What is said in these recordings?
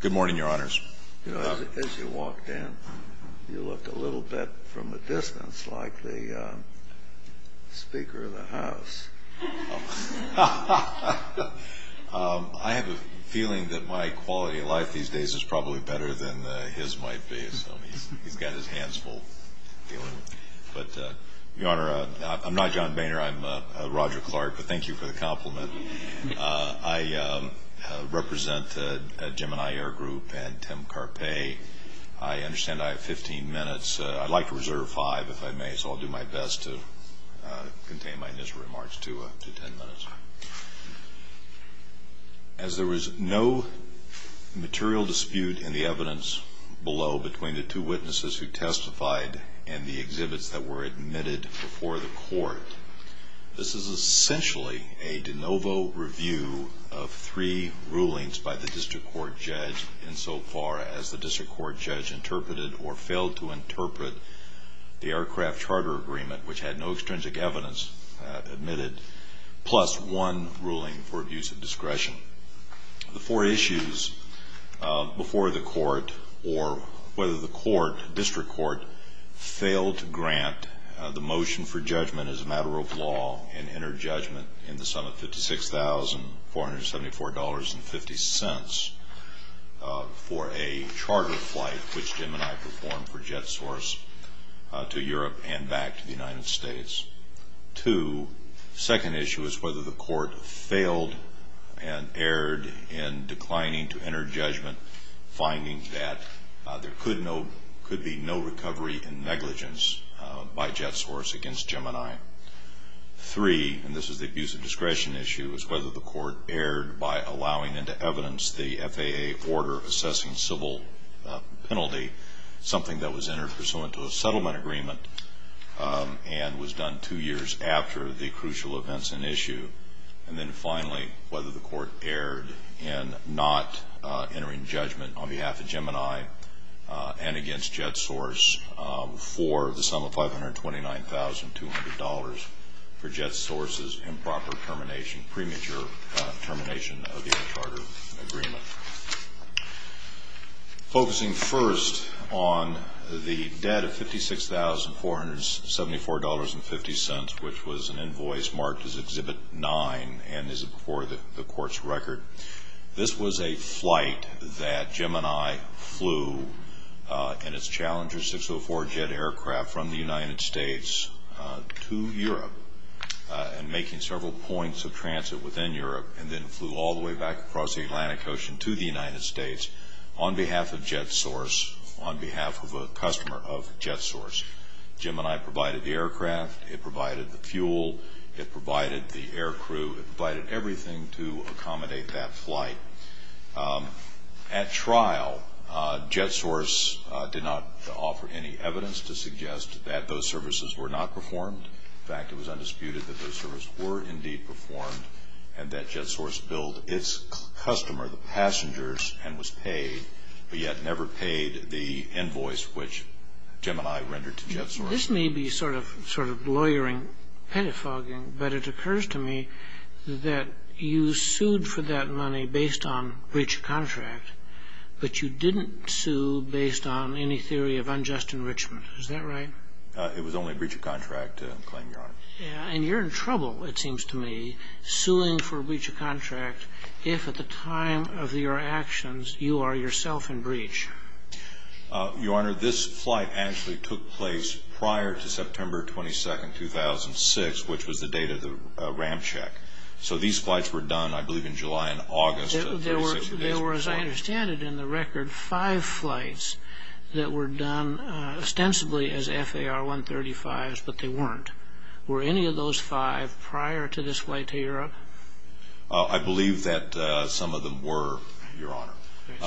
Good morning, Your Honors. You know, as you walked in, you looked a little bit from a distance like the Speaker of the House. I have a feeling that my quality of life these days is probably better than his might be, so he's got his hands full. But, Your Honor, I'm not John Boehner, I'm Roger Clark, but thank you for the compliment. I represent Gemini Air Group and Tim Carpay. I understand I have 15 minutes. I'd like to reserve five, if I may, so I'll do my best to contain my initial remarks to 10 minutes. As there was no material dispute in the evidence below between the two witnesses who testified and the exhibits that were admitted before the court, this is essentially a de novo review of three rulings by the district court judge insofar as the district court judge interpreted or failed to interpret the aircraft charter agreement, which had no extrinsic evidence admitted, plus one ruling for abuse of discretion. The four issues before the court or whether the court, district court, failed to grant the motion for judgment as a matter of law and entered judgment in the sum of $56,474.50 for a charter flight, which Gemini performed for jet source to Europe and back to the United States. Two, second issue is whether the court failed and erred in declining to enter judgment, finding that there could be no recovery in negligence by jet source against Gemini. Three, and this is the abuse of discretion issue, is whether the court erred by allowing into evidence the FAA order assessing civil penalty, something that was entered pursuant to a settlement agreement and was done two years after the crucial events in issue. And then finally, whether the court erred in not entering judgment on behalf of Gemini and against jet source for the sum of $529,200 for jet source's improper termination, premature termination of the air charter agreement. Focusing first on the debt of $56,474.50, which was an invoice marked as Exhibit 9 and is before the court's record. This was a flight that Gemini flew in its Challenger 604 jet aircraft from the United States to Europe and making several points of transit within Europe and then flew all the way back across the Atlantic Ocean to the United States on behalf of jet source, on behalf of a customer of jet source. Gemini provided the aircraft, it provided the fuel, it provided the air crew, it provided everything to accommodate that flight. At trial, jet source did not offer any evidence to suggest that those services were not performed. In fact, it was undisputed that those services were indeed performed and that jet source billed its customer, the passengers, and was paid, but yet never paid the invoice which Gemini rendered to jet source. This may be sort of lawyering, pedophoguing, but it occurs to me that you sued for that money based on breach of contract, but you didn't sue based on any theory of unjust enrichment. Is that right? It was only a breach of contract claim, Your Honor. And you're in trouble, it seems to me, suing for breach of contract if at the time of your actions you are yourself in breach. Your Honor, this flight actually took place prior to September 22, 2006, which was the date of the RAM check. So these flights were done, I believe, in July and August. There were, as I understand it in the record, five flights that were done ostensibly as FAR 135s, but they weren't. Were any of those five prior to this flight to Europe? I believe that some of them were, Your Honor.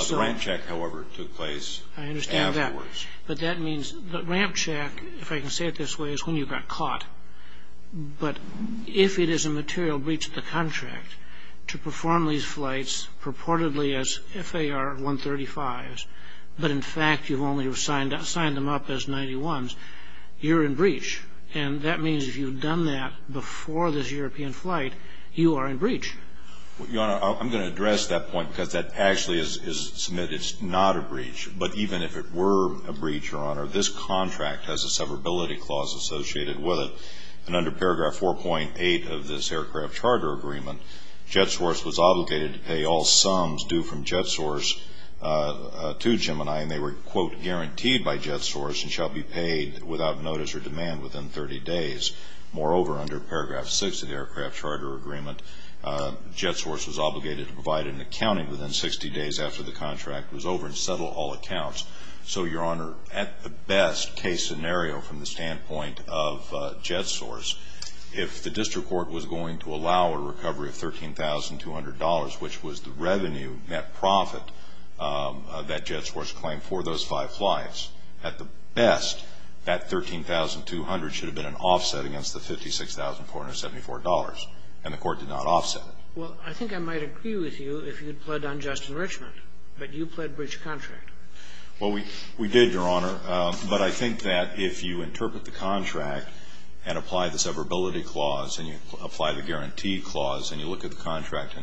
The RAM check, however, took place afterwards. I understand that. But that means the RAM check, if I can say it this way, is when you got caught. But if it is a material breach of the contract to perform these flights purportedly as FAR 135s, but in fact you've only signed them up as 91s, you're in breach. And that means if you've done that before this European flight, you are in breach. Your Honor, I'm going to address that point because that actually is submitted. It's not a breach. But even if it were a breach, Your Honor, this contract has a severability clause associated with it. And under paragraph 4.8 of this aircraft charter agreement, JetSource was obligated to pay all sums due from JetSource to Gemini, and they were, quote, guaranteed by JetSource and shall be paid without notice or demand within 30 days. Moreover, under paragraph 6 of the aircraft charter agreement, JetSource was obligated to provide an accounting within 60 days after the contract was over and settle all accounts. So, Your Honor, at the best case scenario from the standpoint of JetSource, if the district court was going to allow a recovery of $13,200, which was the revenue net profit that JetSource claimed for those five flights, at the best, that $13,200 should have been an offset against the $56,474. And the Court did not offset it. Well, I think I might agree with you if you had pled on Justin Richmond. But you pled breach of contract. Well, we did, Your Honor. But I think that if you interpret the contract and apply the severability clause and you apply the guarantee clause and you look at the contract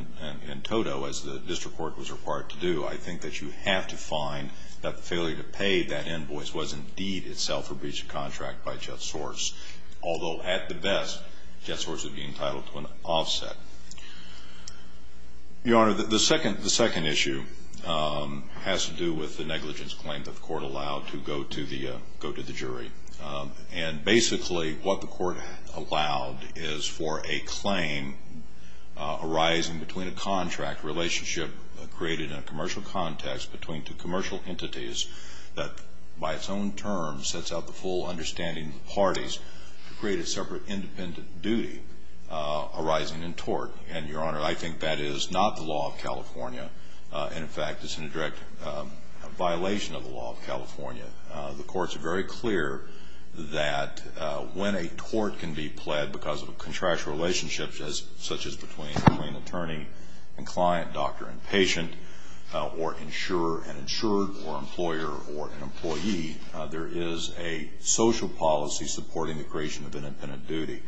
in toto as the district court was required to do, I think that you have to find that the failure to pay that invoice was indeed itself a breach of contract by JetSource. Although, at the best, JetSource would be entitled to an offset. Your Honor, the second issue has to do with the negligence claim that the Court allowed to go to the jury. And basically, what the Court allowed is for a claim arising between a contract relationship created in a commercial context between two commercial entities that, by its own terms, sets out the full understanding of the parties to create a separate independent duty arising in tort. And, Your Honor, I think that is not the law of California. And, in fact, it's a direct violation of the law of California. The Courts are very clear that when a tort can be pled because of a contractual relationship such as between attorney and client, doctor and patient, or insurer and insured, or employer or an employee, there is a social policy supporting the creation of independent duty.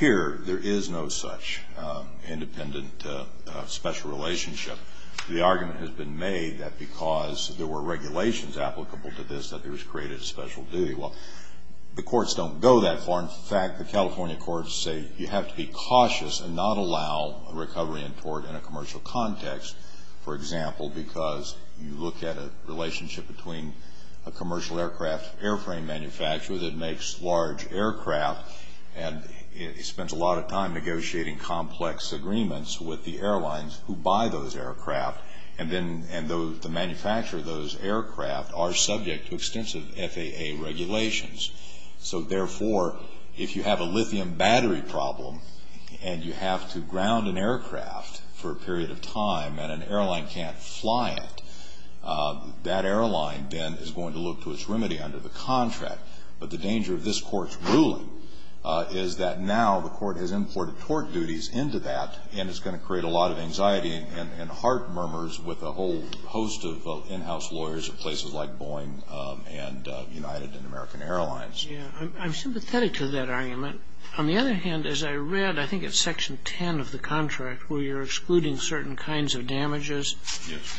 Here, there is no such independent special relationship. The argument has been made that because there were regulations applicable to this that there was created a special duty. Well, the Courts don't go that far. In fact, the California Courts say you have to be cautious and not allow a recovery in tort in a commercial context, for example, because you look at a relationship between a commercial aircraft airframe manufacturer that makes large aircraft and spends a lot of time negotiating complex agreements with the airlines who buy those aircraft and the manufacturer of those aircraft are subject to extensive FAA regulations. So, therefore, if you have a lithium battery problem and you have to ground an aircraft for a period of time and an airline can't fly it, that airline then is going to look to its remedy under the contract. But the danger of this Court's ruling is that now the Court has imported tort duties into that and it's going to create a lot of anxiety and heart murmurs with a whole host of in-house lawyers at places like Boeing and United and American Airlines. Yeah. I'm sympathetic to that argument. On the other hand, as I read, I think it's Section 10 of the contract where you're excluding certain kinds of damages. Yes.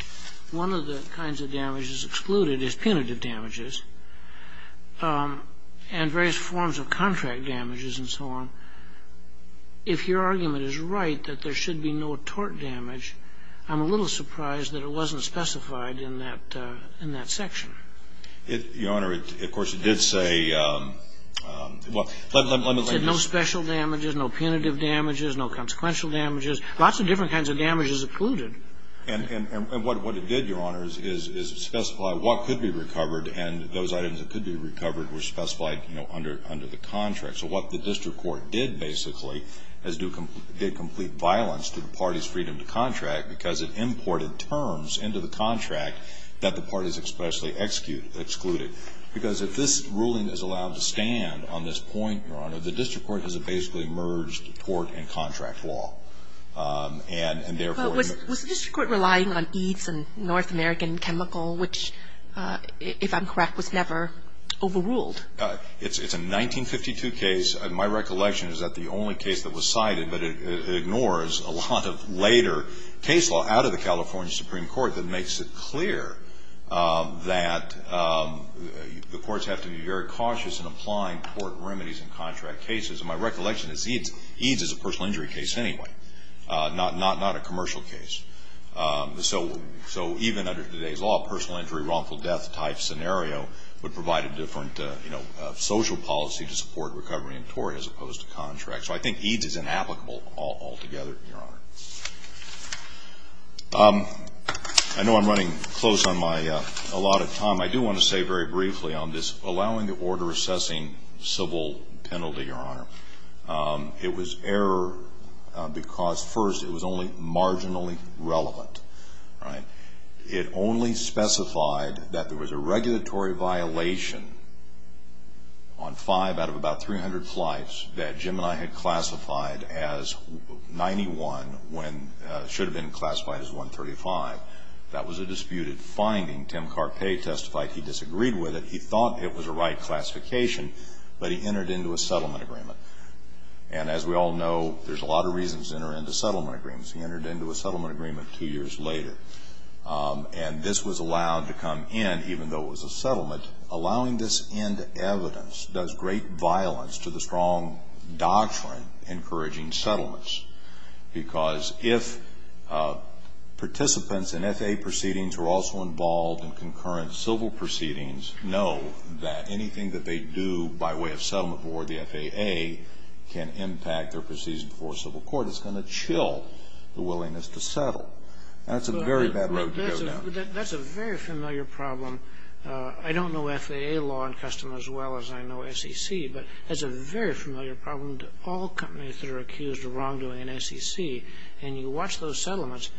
One of the kinds of damages excluded is punitive damages and various forms of contract damages and so on. If your argument is right that there should be no tort damage, I'm a little surprised that it wasn't specified in that section. Your Honor, of course, it did say no special damages, no punitive damages, no consequential damages, lots of different kinds of damages excluded. And what it did, Your Honor, is specify what could be recovered and those items that could be recovered were specified, you know, under the contract. So what the district court did basically is do complete violence to the party's freedom to contract because it imported terms into the contract that the party's freedom to contract was specified. And so the district court did not specify that there should be no punitive damages, especially excluded. Because if this ruling is allowed to stand on this point, Your Honor, the district court has a basically merged tort and contract law. And therefore it's not. But was the district court relying on EADS and North American Chemical, which, if I'm correct, was never overruled? It's a 1952 case. My recollection is that the only case that was cited, but it ignores a lot of later case law out of the California Supreme Court that makes it clear that the courts have to be very cautious in applying tort remedies in contract cases. And my recollection is EADS is a personal injury case anyway, not a commercial case. So even under today's law, personal injury, wrongful death type scenario would provide a different social policy to support recovery in tort as opposed to contract. So I think EADS is inapplicable altogether, Your Honor. I know I'm running close on my allotted time. I do want to say very briefly on this allowing the order assessing civil penalty, Your Honor. It was error because, first, it was only marginally relevant. It only specified that there was a regulatory violation on five out of about 300 flights that Jim and I had classified as 91 when it should have been classified as 135. That was a disputed finding. Tim Carpe testified he disagreed with it. He thought it was a right classification, but he entered into a settlement agreement. And as we all know, there's a lot of reasons to enter into settlement agreements. He entered into a settlement agreement two years later. And this was allowed to come in even though it was a settlement. Allowing this end evidence does great violence to the strong doctrine encouraging settlements. Because if participants in FAA proceedings are also involved in concurrent civil proceedings, know that anything that they do by way of settlement or the FAA can impact their proceedings before civil court is going to chill the willingness to settle. That's a very bad road to go down. That's a very familiar problem. I don't know FAA law and custom as well as I know SEC, but that's a very familiar problem to all companies that are accused of wrongdoing in SEC. And you watch those settlements,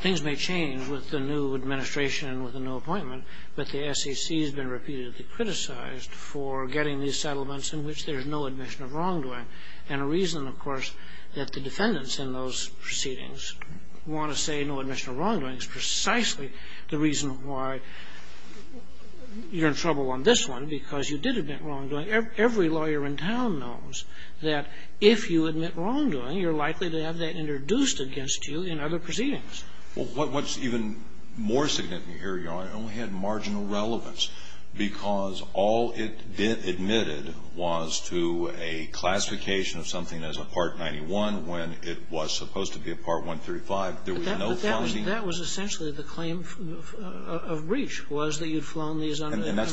things may change with the new administration and with the new appointment, but the SEC has been repeatedly criticized for getting these settlements in which there's no admission of wrongdoing. And a reason, of course, that the defendants in those proceedings want to say no admission of wrongdoing is precisely the reason why you're in trouble on this one, because you did admit wrongdoing. Every lawyer in town knows that if you admit wrongdoing, you're likely to have that introduced against you in other proceedings. Well, what's even more significant here, Your Honor, only had marginal relevance, because all it admitted was to a classification of something as a Part 91 when it was supposed to be a Part 135. There was no funding. But that was essentially the claim of breach was that you'd flown these under the category. And that's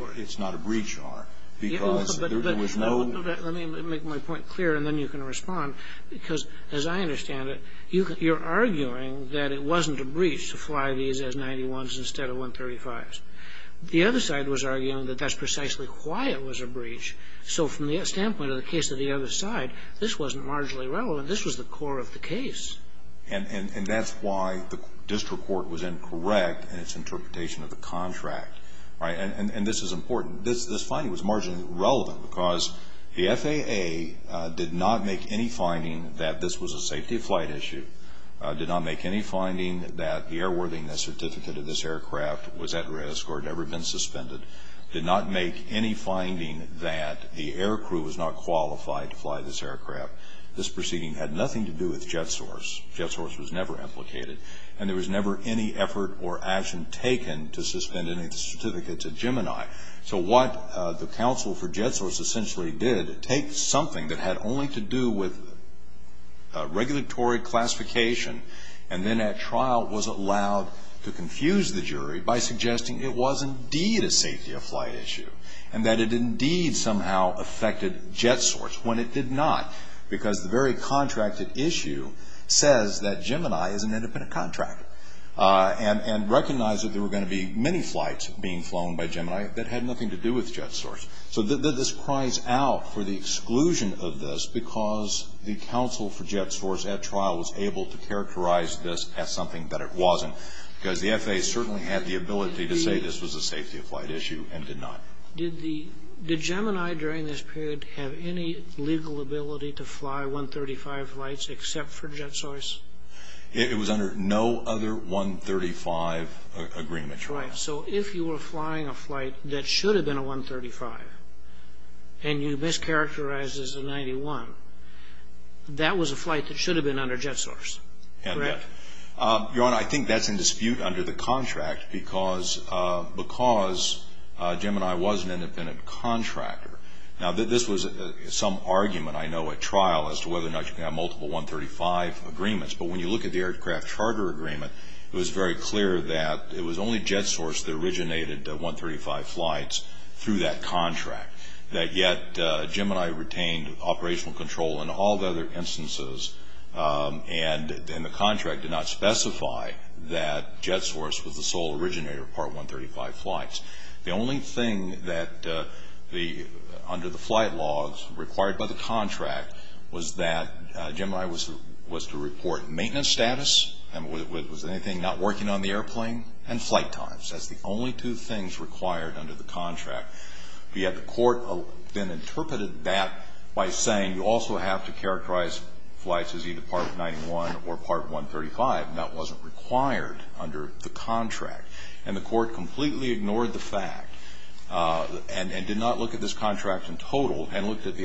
why it's not a breach, Your Honor, because there was no ---- Let me make my point clear, and then you can respond. Because, as I understand it, you're arguing that it wasn't a breach to fly these as 91s instead of 135s. The other side was arguing that that's precisely why it was a breach. So from the standpoint of the case of the other side, this wasn't marginally relevant. This was the core of the case. And that's why the district court was incorrect in its interpretation of the contract. And this is important. This finding was marginally relevant because the FAA did not make any finding that this was a safety flight issue, did not make any finding that the airworthiness certificate of this aircraft was at risk or had ever been suspended, did not make any finding that the air crew was not qualified to fly this aircraft. This proceeding had nothing to do with Jet Source. Jet Source was never implicated. And there was never any effort or action taken to suspend any certificates at Gemini. So what the counsel for Jet Source essentially did, take something that had only to do with regulatory classification and then at trial was allowed to confuse the jury by suggesting it was indeed a safety of flight issue and that it indeed somehow affected Jet Source when it did not. Because the very contracted issue says that Gemini is an independent contractor. And recognized that there were going to be many flights being flown by Gemini that had nothing to do with Jet Source. So this cries out for the exclusion of this because the counsel for Jet Source at trial was able to characterize this as something that it wasn't. Because the FAA certainly had the ability to say this was a safety of flight issue and did not. Did Gemini during this period have any legal ability to fly 135 flights except for Jet Source? It was under no other 135 agreement. Right. So if you were flying a flight that should have been a 135 and you mischaracterized it as a 91, that was a flight that should have been under Jet Source. Correct. Your Honor, I think that's in dispute under the contract because Gemini was an independent contractor. Now, this was some argument I know at trial as to whether or not you can have multiple 135 agreements. But when you look at the aircraft charter agreement, it was very clear that it was only Jet Source that originated 135 flights through that contract. Yet Gemini retained operational control in all the other instances. And the contract did not specify that Jet Source was the sole originator of part 135 flights. The only thing under the flight laws required by the contract was that Gemini was to report maintenance status. Was there anything not working on the airplane? And flight times. That's the only two things required under the contract. Yet the court then interpreted that by saying you also have to characterize flights as either part 91 or part 135. And that wasn't required under the contract. And the court completely ignored the fact and did not look at this contract in total and looked at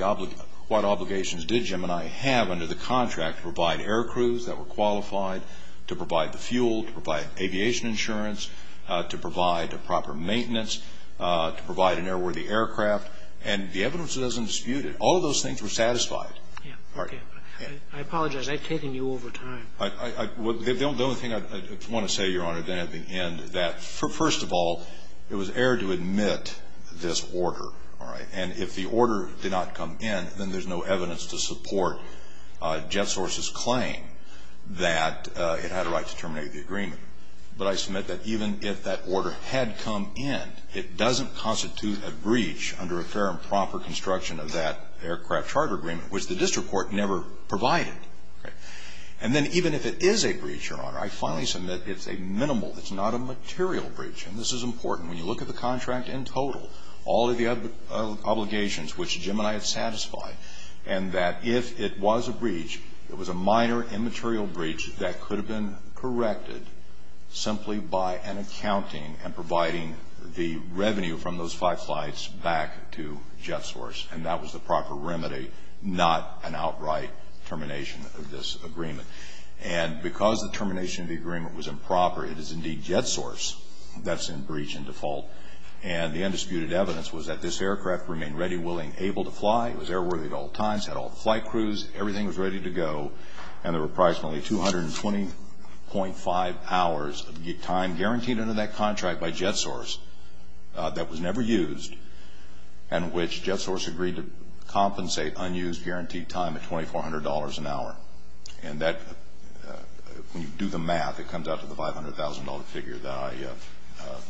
what obligations did Gemini have under the contract to provide air crews that were qualified, to provide the fuel, to provide aviation insurance, to provide proper maintenance, to provide an airworthy aircraft. And the evidence doesn't dispute it. All of those things were satisfied. Okay. I apologize. I've taken you over time. The only thing I want to say, Your Honor, then at the end, that, first of all, it was error to admit this order. All right. And if the order did not come in, then there's no evidence to support Jet Source's claim that it had a right to terminate the agreement. But I submit that even if that order had come in, it doesn't constitute a breach under a fair and proper construction of that aircraft charter agreement, which the district court never provided. Okay. And then even if it is a breach, Your Honor, I finally submit it's a minimal, it's not a material breach. And this is important. When you look at the contract in total, all of the obligations which Gemini had satisfied, and that if it was a breach, it was a minor, immaterial breach that could have been corrected simply by an accounting and providing the revenue from those five flights back to Jet Source. And that was the proper remedy, not an outright termination of this agreement. And because the termination of the agreement was improper, it is indeed Jet Source that's in breach and default. And the undisputed evidence was that this aircraft remained ready, willing, able to fly. It was airworthy at all times. It had all the flight crews. Everything was ready to go. And there were approximately 220.5 hours of time guaranteed under that contract by Jet Source that was never used and which Jet Source agreed to compensate unused guaranteed time at $2,400 an hour. And that, when you do the math, it comes out to the $500,000 figure that I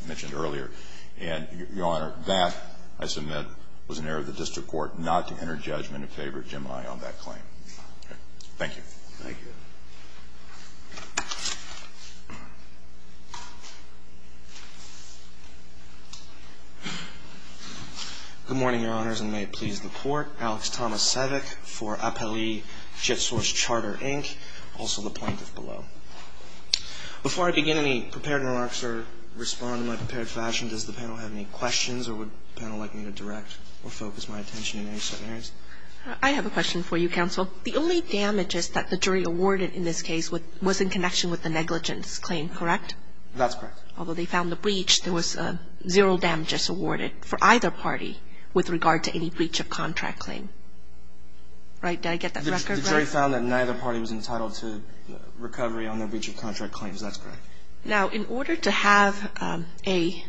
mentioned earlier. And, Your Honor, that, I submit, was an error of the district court not to enter judgment in favor of Gemini on that claim. Thank you. Thank you. Good morning, Your Honors, and may it please the Court. Alex Thomas-Savick for Appellee Jet Source Charter, Inc., also the plaintiff below. Before I begin any prepared remarks or respond in my prepared fashion, does the panel have any questions or would the panel like me to direct or focus my attention in any scenarios? I have a question for you, Counsel. The only damages that the jury awarded in this case was in connection with the negligence claim, correct? That's correct. Although they found the breach, there was zero damages awarded for either party with regard to any breach of contract claim. Right? Did I get that record right? The jury found that neither party was entitled to recovery on their breach of contract claims. That's correct. Now, in order to have a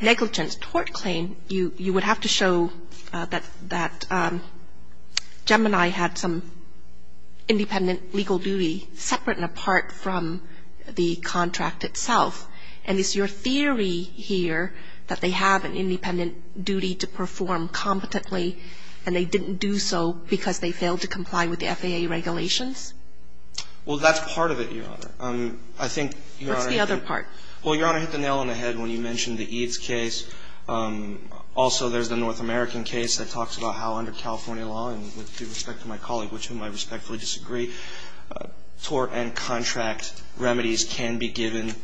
negligence tort claim, you would have to show that Gemini had some independent legal duty separate and apart from the contract itself. And is your theory here that they have an independent duty to perform competently and they didn't do so because they failed to comply with the FAA regulations? Well, that's part of it, Your Honor. I think, Your Honor, I think What's the other part? Well, Your Honor, I hit the nail on the head when you mentioned the EADS case. Also, there's the North American case that talks about how under California law and with due respect to my colleague, which whom I respectfully disagree, tort and contract remedies can be given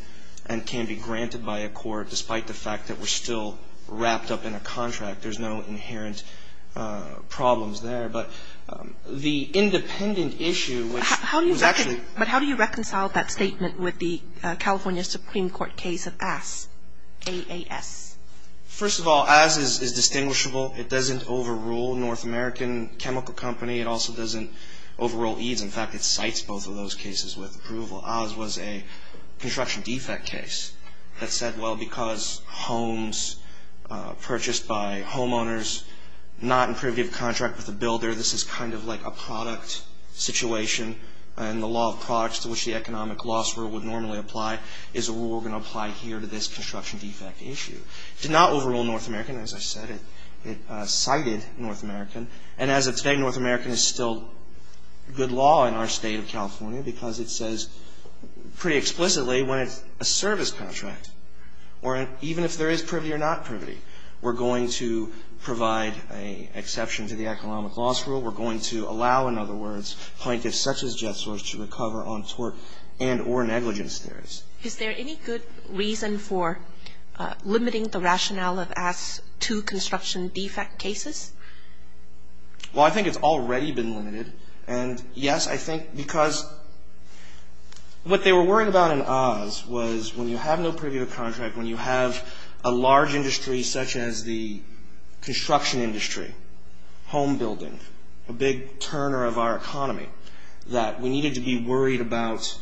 and can be granted by a court despite the fact that we're still wrapped up in a contract. There's no inherent problems there. But the independent issue, which was actually But how do you reconcile that statement with the California Supreme Court case of AS, AAS? First of all, AS is distinguishable. It doesn't overrule North American Chemical Company. It also doesn't overrule EADS. In fact, it cites both of those cases with approval. AS was a construction defect case that said, well, because homes purchased by homeowners, not in privative contract with the builder, this is kind of like a product situation and the law of products to which the economic loss rule would normally apply is a rule we're going to apply here to this construction defect issue. It did not overrule North American. As I said, it cited North American. And as of today, North American is still good law in our State of California because it says pretty explicitly when it's a service contract. Or even if there is privity or not privity, we're going to provide an exception to the economic loss rule. We're going to allow, in other words, plaintiffs such as Jet Source to recover on tort and or negligence theories. Is there any good reason for limiting the rationale of AS to construction defect cases? Well, I think it's already been limited. And, yes, I think because what they were worried about in AS was when you have no privative contract, when you have a large industry such as the construction industry, home building, a big turner of our economy, that we needed to be worried about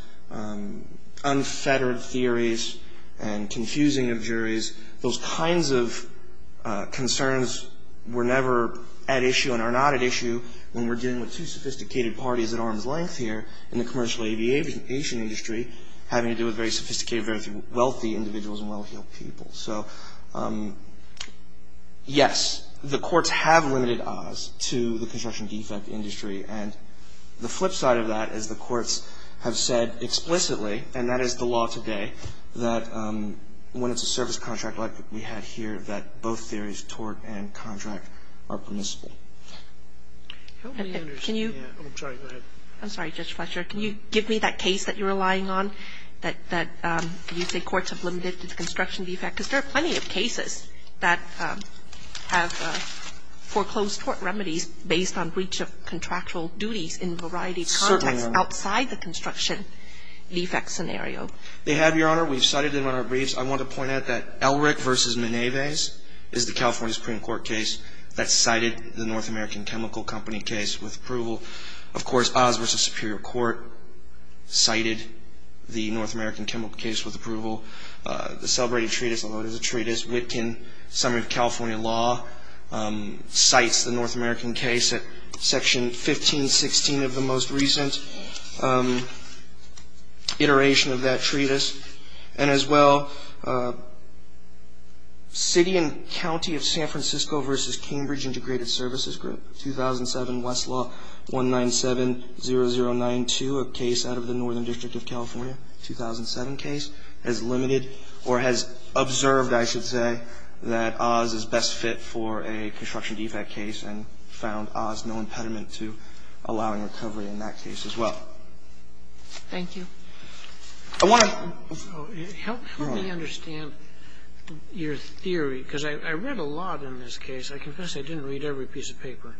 unfettered theories and confusing of juries. Those kinds of concerns were never at issue and are not at issue when we're dealing with two sophisticated parties at arm's length here in the commercial aviation industry having to do with very sophisticated, very wealthy individuals and well-heeled people. So, yes, the courts have limited AS to the construction defect industry. And the flip side of that is the courts have said explicitly, and that is the law today, that when it's a service contract like we had here, that both theories, tort and contract, are permissible. I'm sorry, Judge Fletcher. Can you give me that case that you're relying on that you say courts have limited to the construction defect? Because there are plenty of cases that have foreclosed tort remedies based on breach of contractual duties in a variety of contexts outside the construction defect scenario. They have, Your Honor. We've cited them in our briefs. I want to point out that Elric v. Meneves is the California Supreme Court case that cited the North American Chemical Company case with approval. Of course, Oz v. Superior Court cited the North American Chemical case with approval. The Celebrated Treatise, I'll note, is a treatise. Witkin, Summary of California Law, cites the North American case at Section 1516 of the most recent iteration of that treatise. And as well, City and County of San Francisco v. Cambridge Integrated Services Group, 2007, Westlaw 1970092, a case out of the Northern District of California, 2007 case, has limited or has observed, I should say, that Oz is best fit for a construction defect case and found Oz no impediment to allowing recovery in that case as well. Thank you. I want to ---- Help me understand your theory, because I read a lot in this case. I confess I didn't read every piece of paper.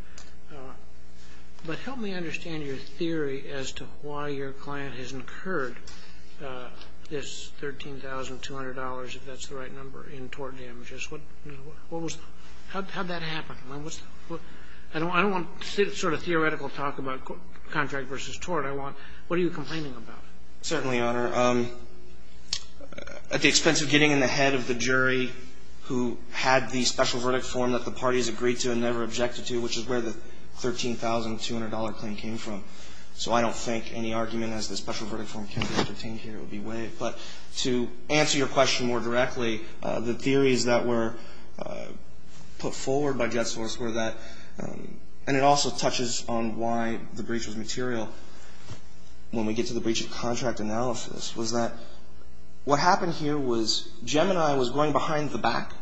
But help me understand your theory as to why your client has incurred this $13,200, if that's the right number, in tort damages. What was the ---- How did that happen? I don't want sort of theoretical talk about contract versus tort. I want, what are you complaining about? Certainly, Your Honor. At the expense of getting in the head of the jury who had the special verdict form that the parties agreed to and never objected to, which is where the $13,200 claim came from. So I don't think any argument as to the special verdict form can be entertained here. It would be way ---- But to answer your question more directly, the theories that were put forward by Jetsource were that ---- And it also touches on why the breach was material when we get to the breach of contract analysis, was that what happened here was Gemini was going behind the back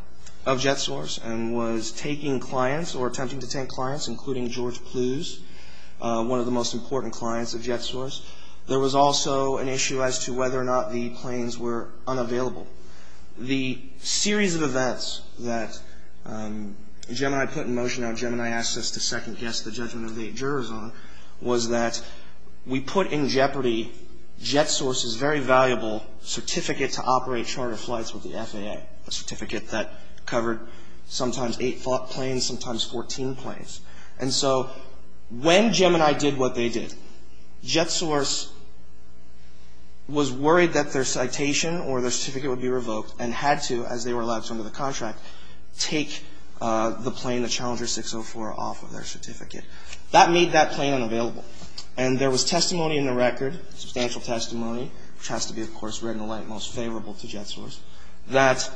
of Jetsource and was taking clients or attempting to take clients, including George Plews, one of the most important clients of Jetsource. There was also an issue as to whether or not the planes were unavailable. The series of events that Gemini put in motion, how Gemini asked us to second-guess the judgment of the jurors on, was that we put in jeopardy Jetsource's very valuable certificate to operate charter flights with the FAA, a certificate that covered sometimes eight planes, sometimes 14 planes. And so when Gemini did what they did, Jetsource was worried that their citation or their certificate would be revoked and had to, as they were allowed to under the contract, take the plane, the Challenger 604, off of their certificate. That made that plane unavailable. And there was testimony in the record, substantial testimony, which has to be, of course, red and white, most favorable to Jetsource, that,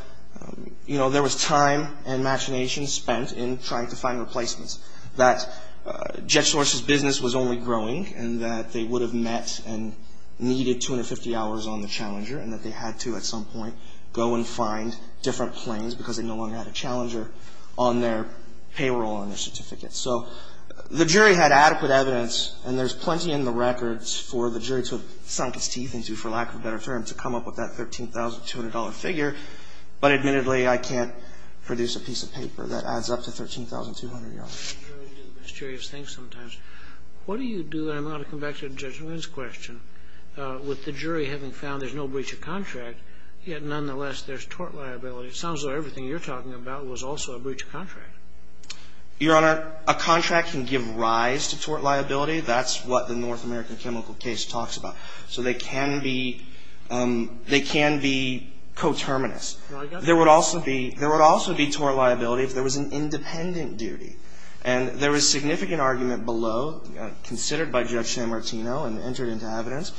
you know, there was time and imagination spent in trying to find replacements, that Jetsource's business was only growing and that they would have met and needed 250 hours on the Challenger and that they had to, at some point, go and find different planes because they no longer had a Challenger on their payroll on their certificate. So the jury had adequate evidence, and there's plenty in the records for the jury to have sunk its teeth into, for lack of a better term, to come up with that $13,200 figure. But admittedly, I can't produce a piece of paper that adds up to $13,200. The jury does mysterious things sometimes. What do you do, and I'm going to come back to Judge Wynn's question, with the jury having found there's no breach of contract, yet nonetheless there's tort liability? It sounds like everything you're talking about was also a breach of contract. Your Honor, a contract can give rise to tort liability. That's what the North American chemical case talks about. So they can be coterminous. There would also be tort liability if there was an independent duty. And there was significant argument below, considered by Judge Sanmartino and entered into evidence,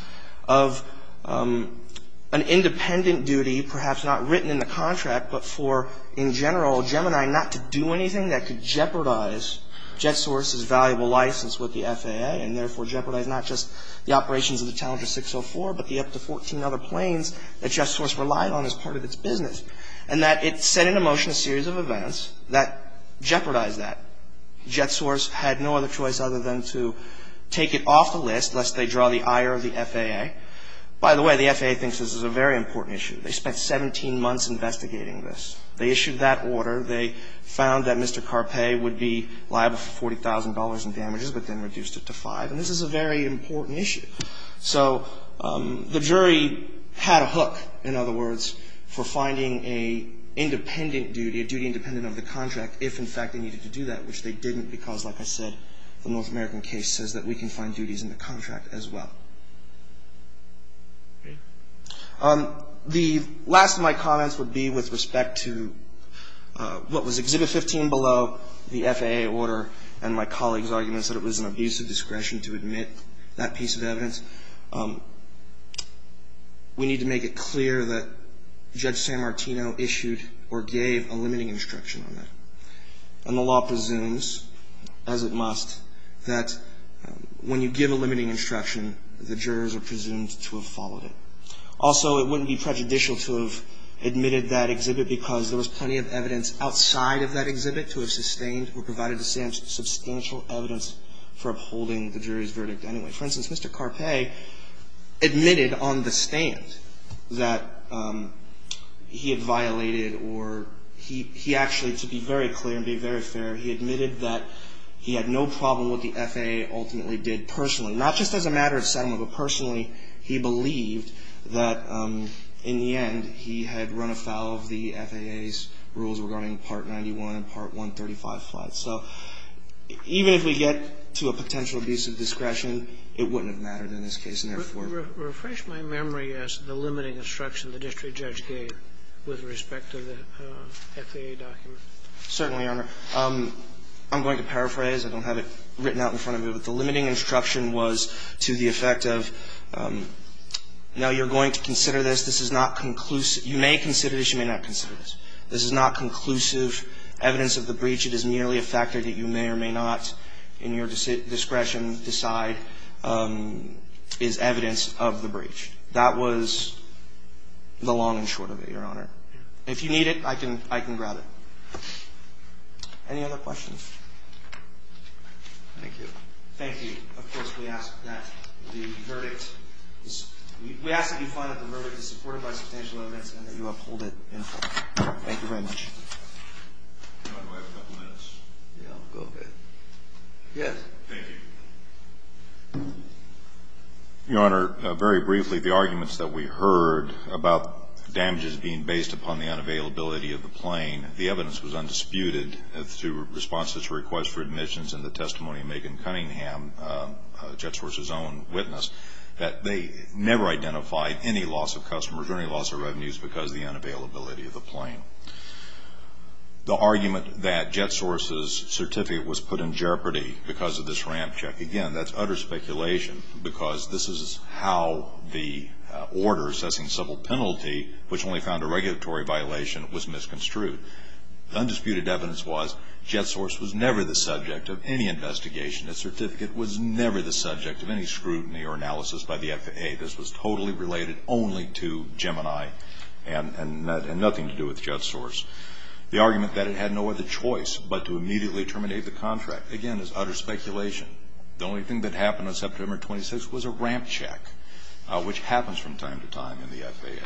of an independent duty, perhaps not written in the contract, but for, in general, Gemini not to do anything that could jeopardize JetSource's valuable license with the FAA, and therefore jeopardize not just the operations of the Challenger 604, but the up to 14 other planes that JetSource relied on as part of its business. And that it set into motion a series of events that jeopardized that. JetSource had no other choice other than to take it off the list, lest they draw the ire of the FAA. By the way, the FAA thinks this is a very important issue. They spent 17 months investigating this. They issued that order. They found that Mr. Carpe would be liable for $40,000 in damages, but then reduced it to 5. And this is a very important issue. So the jury had a hook, in other words, for finding an independent duty, a duty independent of the contract, if, in fact, they needed to do that, which they didn't, because, like I said, the North American case says that we can find duties in the contract as well. The last of my comments would be with respect to what was Exhibit 15 below the FAA order and my colleague's arguments that it was an abuse of discretion to admit that piece of evidence. We need to make it clear that Judge San Martino issued or gave a limiting instruction on that. And the law presumes, as it must, that when you give a limiting instruction, the jurors are presumed to have followed it. Also, it wouldn't be prejudicial to have admitted that exhibit because there was plenty of evidence outside of that exhibit to have sustained or provided substantial evidence for upholding the jury's verdict anyway. For instance, Mr. Carpe admitted on the stand that he had violated or he actually, to be very clear and be very fair, he admitted that he had no problem with what the FAA ultimately did personally, not just as a matter of settlement, but personally, he believed that, in the end, he had run afoul of the FAA's rules regarding Part 91 and Part 135 flights. So even if we get to a potential abuse of discretion, it wouldn't have mattered in this case, and therefore ---- Refresh my memory as the limiting instruction the district judge gave with respect to the FAA document. Certainly, Your Honor. I'm going to paraphrase. I don't have it written out in front of me. But the limiting instruction was to the effect of, no, you're going to consider this. This is not conclusive. You may consider this. You may not consider this. This is not conclusive evidence of the breach. It is merely a factor that you may or may not in your discretion decide is evidence of the breach. That was the long and short of it, Your Honor. If you need it, I can grab it. Any other questions? Thank you. Thank you. Of course, we ask that the verdict is ---- We ask that you find that the verdict is supported by substantial evidence and that you uphold it in full. Thank you very much. Your Honor, do I have a couple minutes? Yeah, go ahead. Yes. Thank you. Your Honor, very briefly, the arguments that we heard about damages being based upon the request for admissions in the testimony of Megan Cunningham, JetSource's own witness, that they never identified any loss of customers or any loss of revenues because of the unavailability of the plane. The argument that JetSource's certificate was put in jeopardy because of this ramp check, again, that's utter speculation because this is how the order assessing civil penalty, which only found a regulatory violation, was misconstrued. The undisputed evidence was JetSource was never the subject of any investigation. Its certificate was never the subject of any scrutiny or analysis by the FAA. This was totally related only to Gemini and nothing to do with JetSource. The argument that it had no other choice but to immediately terminate the contract, again, is utter speculation. The only thing that happened on September 26th was a ramp check, which happens from time to time in the FAA.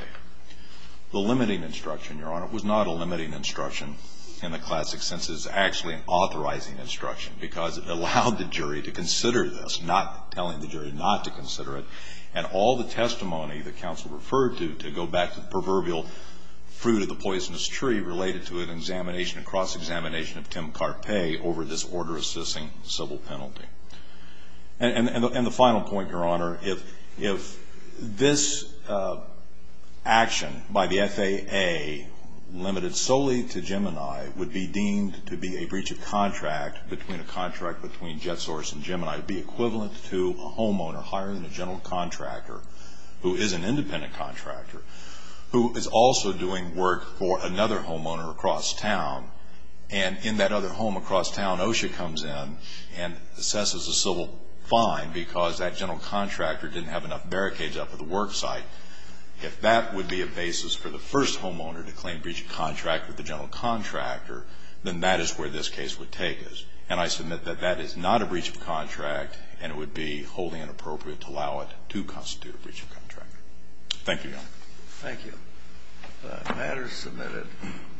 The limiting instruction, Your Honor, was not a limiting instruction in the classic sense. It is actually an authorizing instruction because it allowed the jury to consider this, not telling the jury not to consider it, and all the testimony that counsel referred to to go back to the proverbial fruit of the poisonous tree related to an examination, a cross-examination of Tim Carpe over this order assessing civil penalty. And the final point, Your Honor, if this action by the FAA, limited solely to Gemini, would be deemed to be a breach of contract between a contract between JetSource and Gemini, it would be equivalent to a homeowner hiring a general contractor, who is an independent contractor, who is also doing work for another homeowner across town. And in that other home across town, OSHA comes in and assesses a civil fine because that general contractor didn't have enough barricades up at the work site. If that would be a basis for the first homeowner to claim breach of contract with the general contractor, then that is where this case would take us. And I submit that that is not a breach of contract, and it would be wholly inappropriate to allow it to constitute a breach of contract. Thank you, Your Honor. Thank you. The matter is submitted.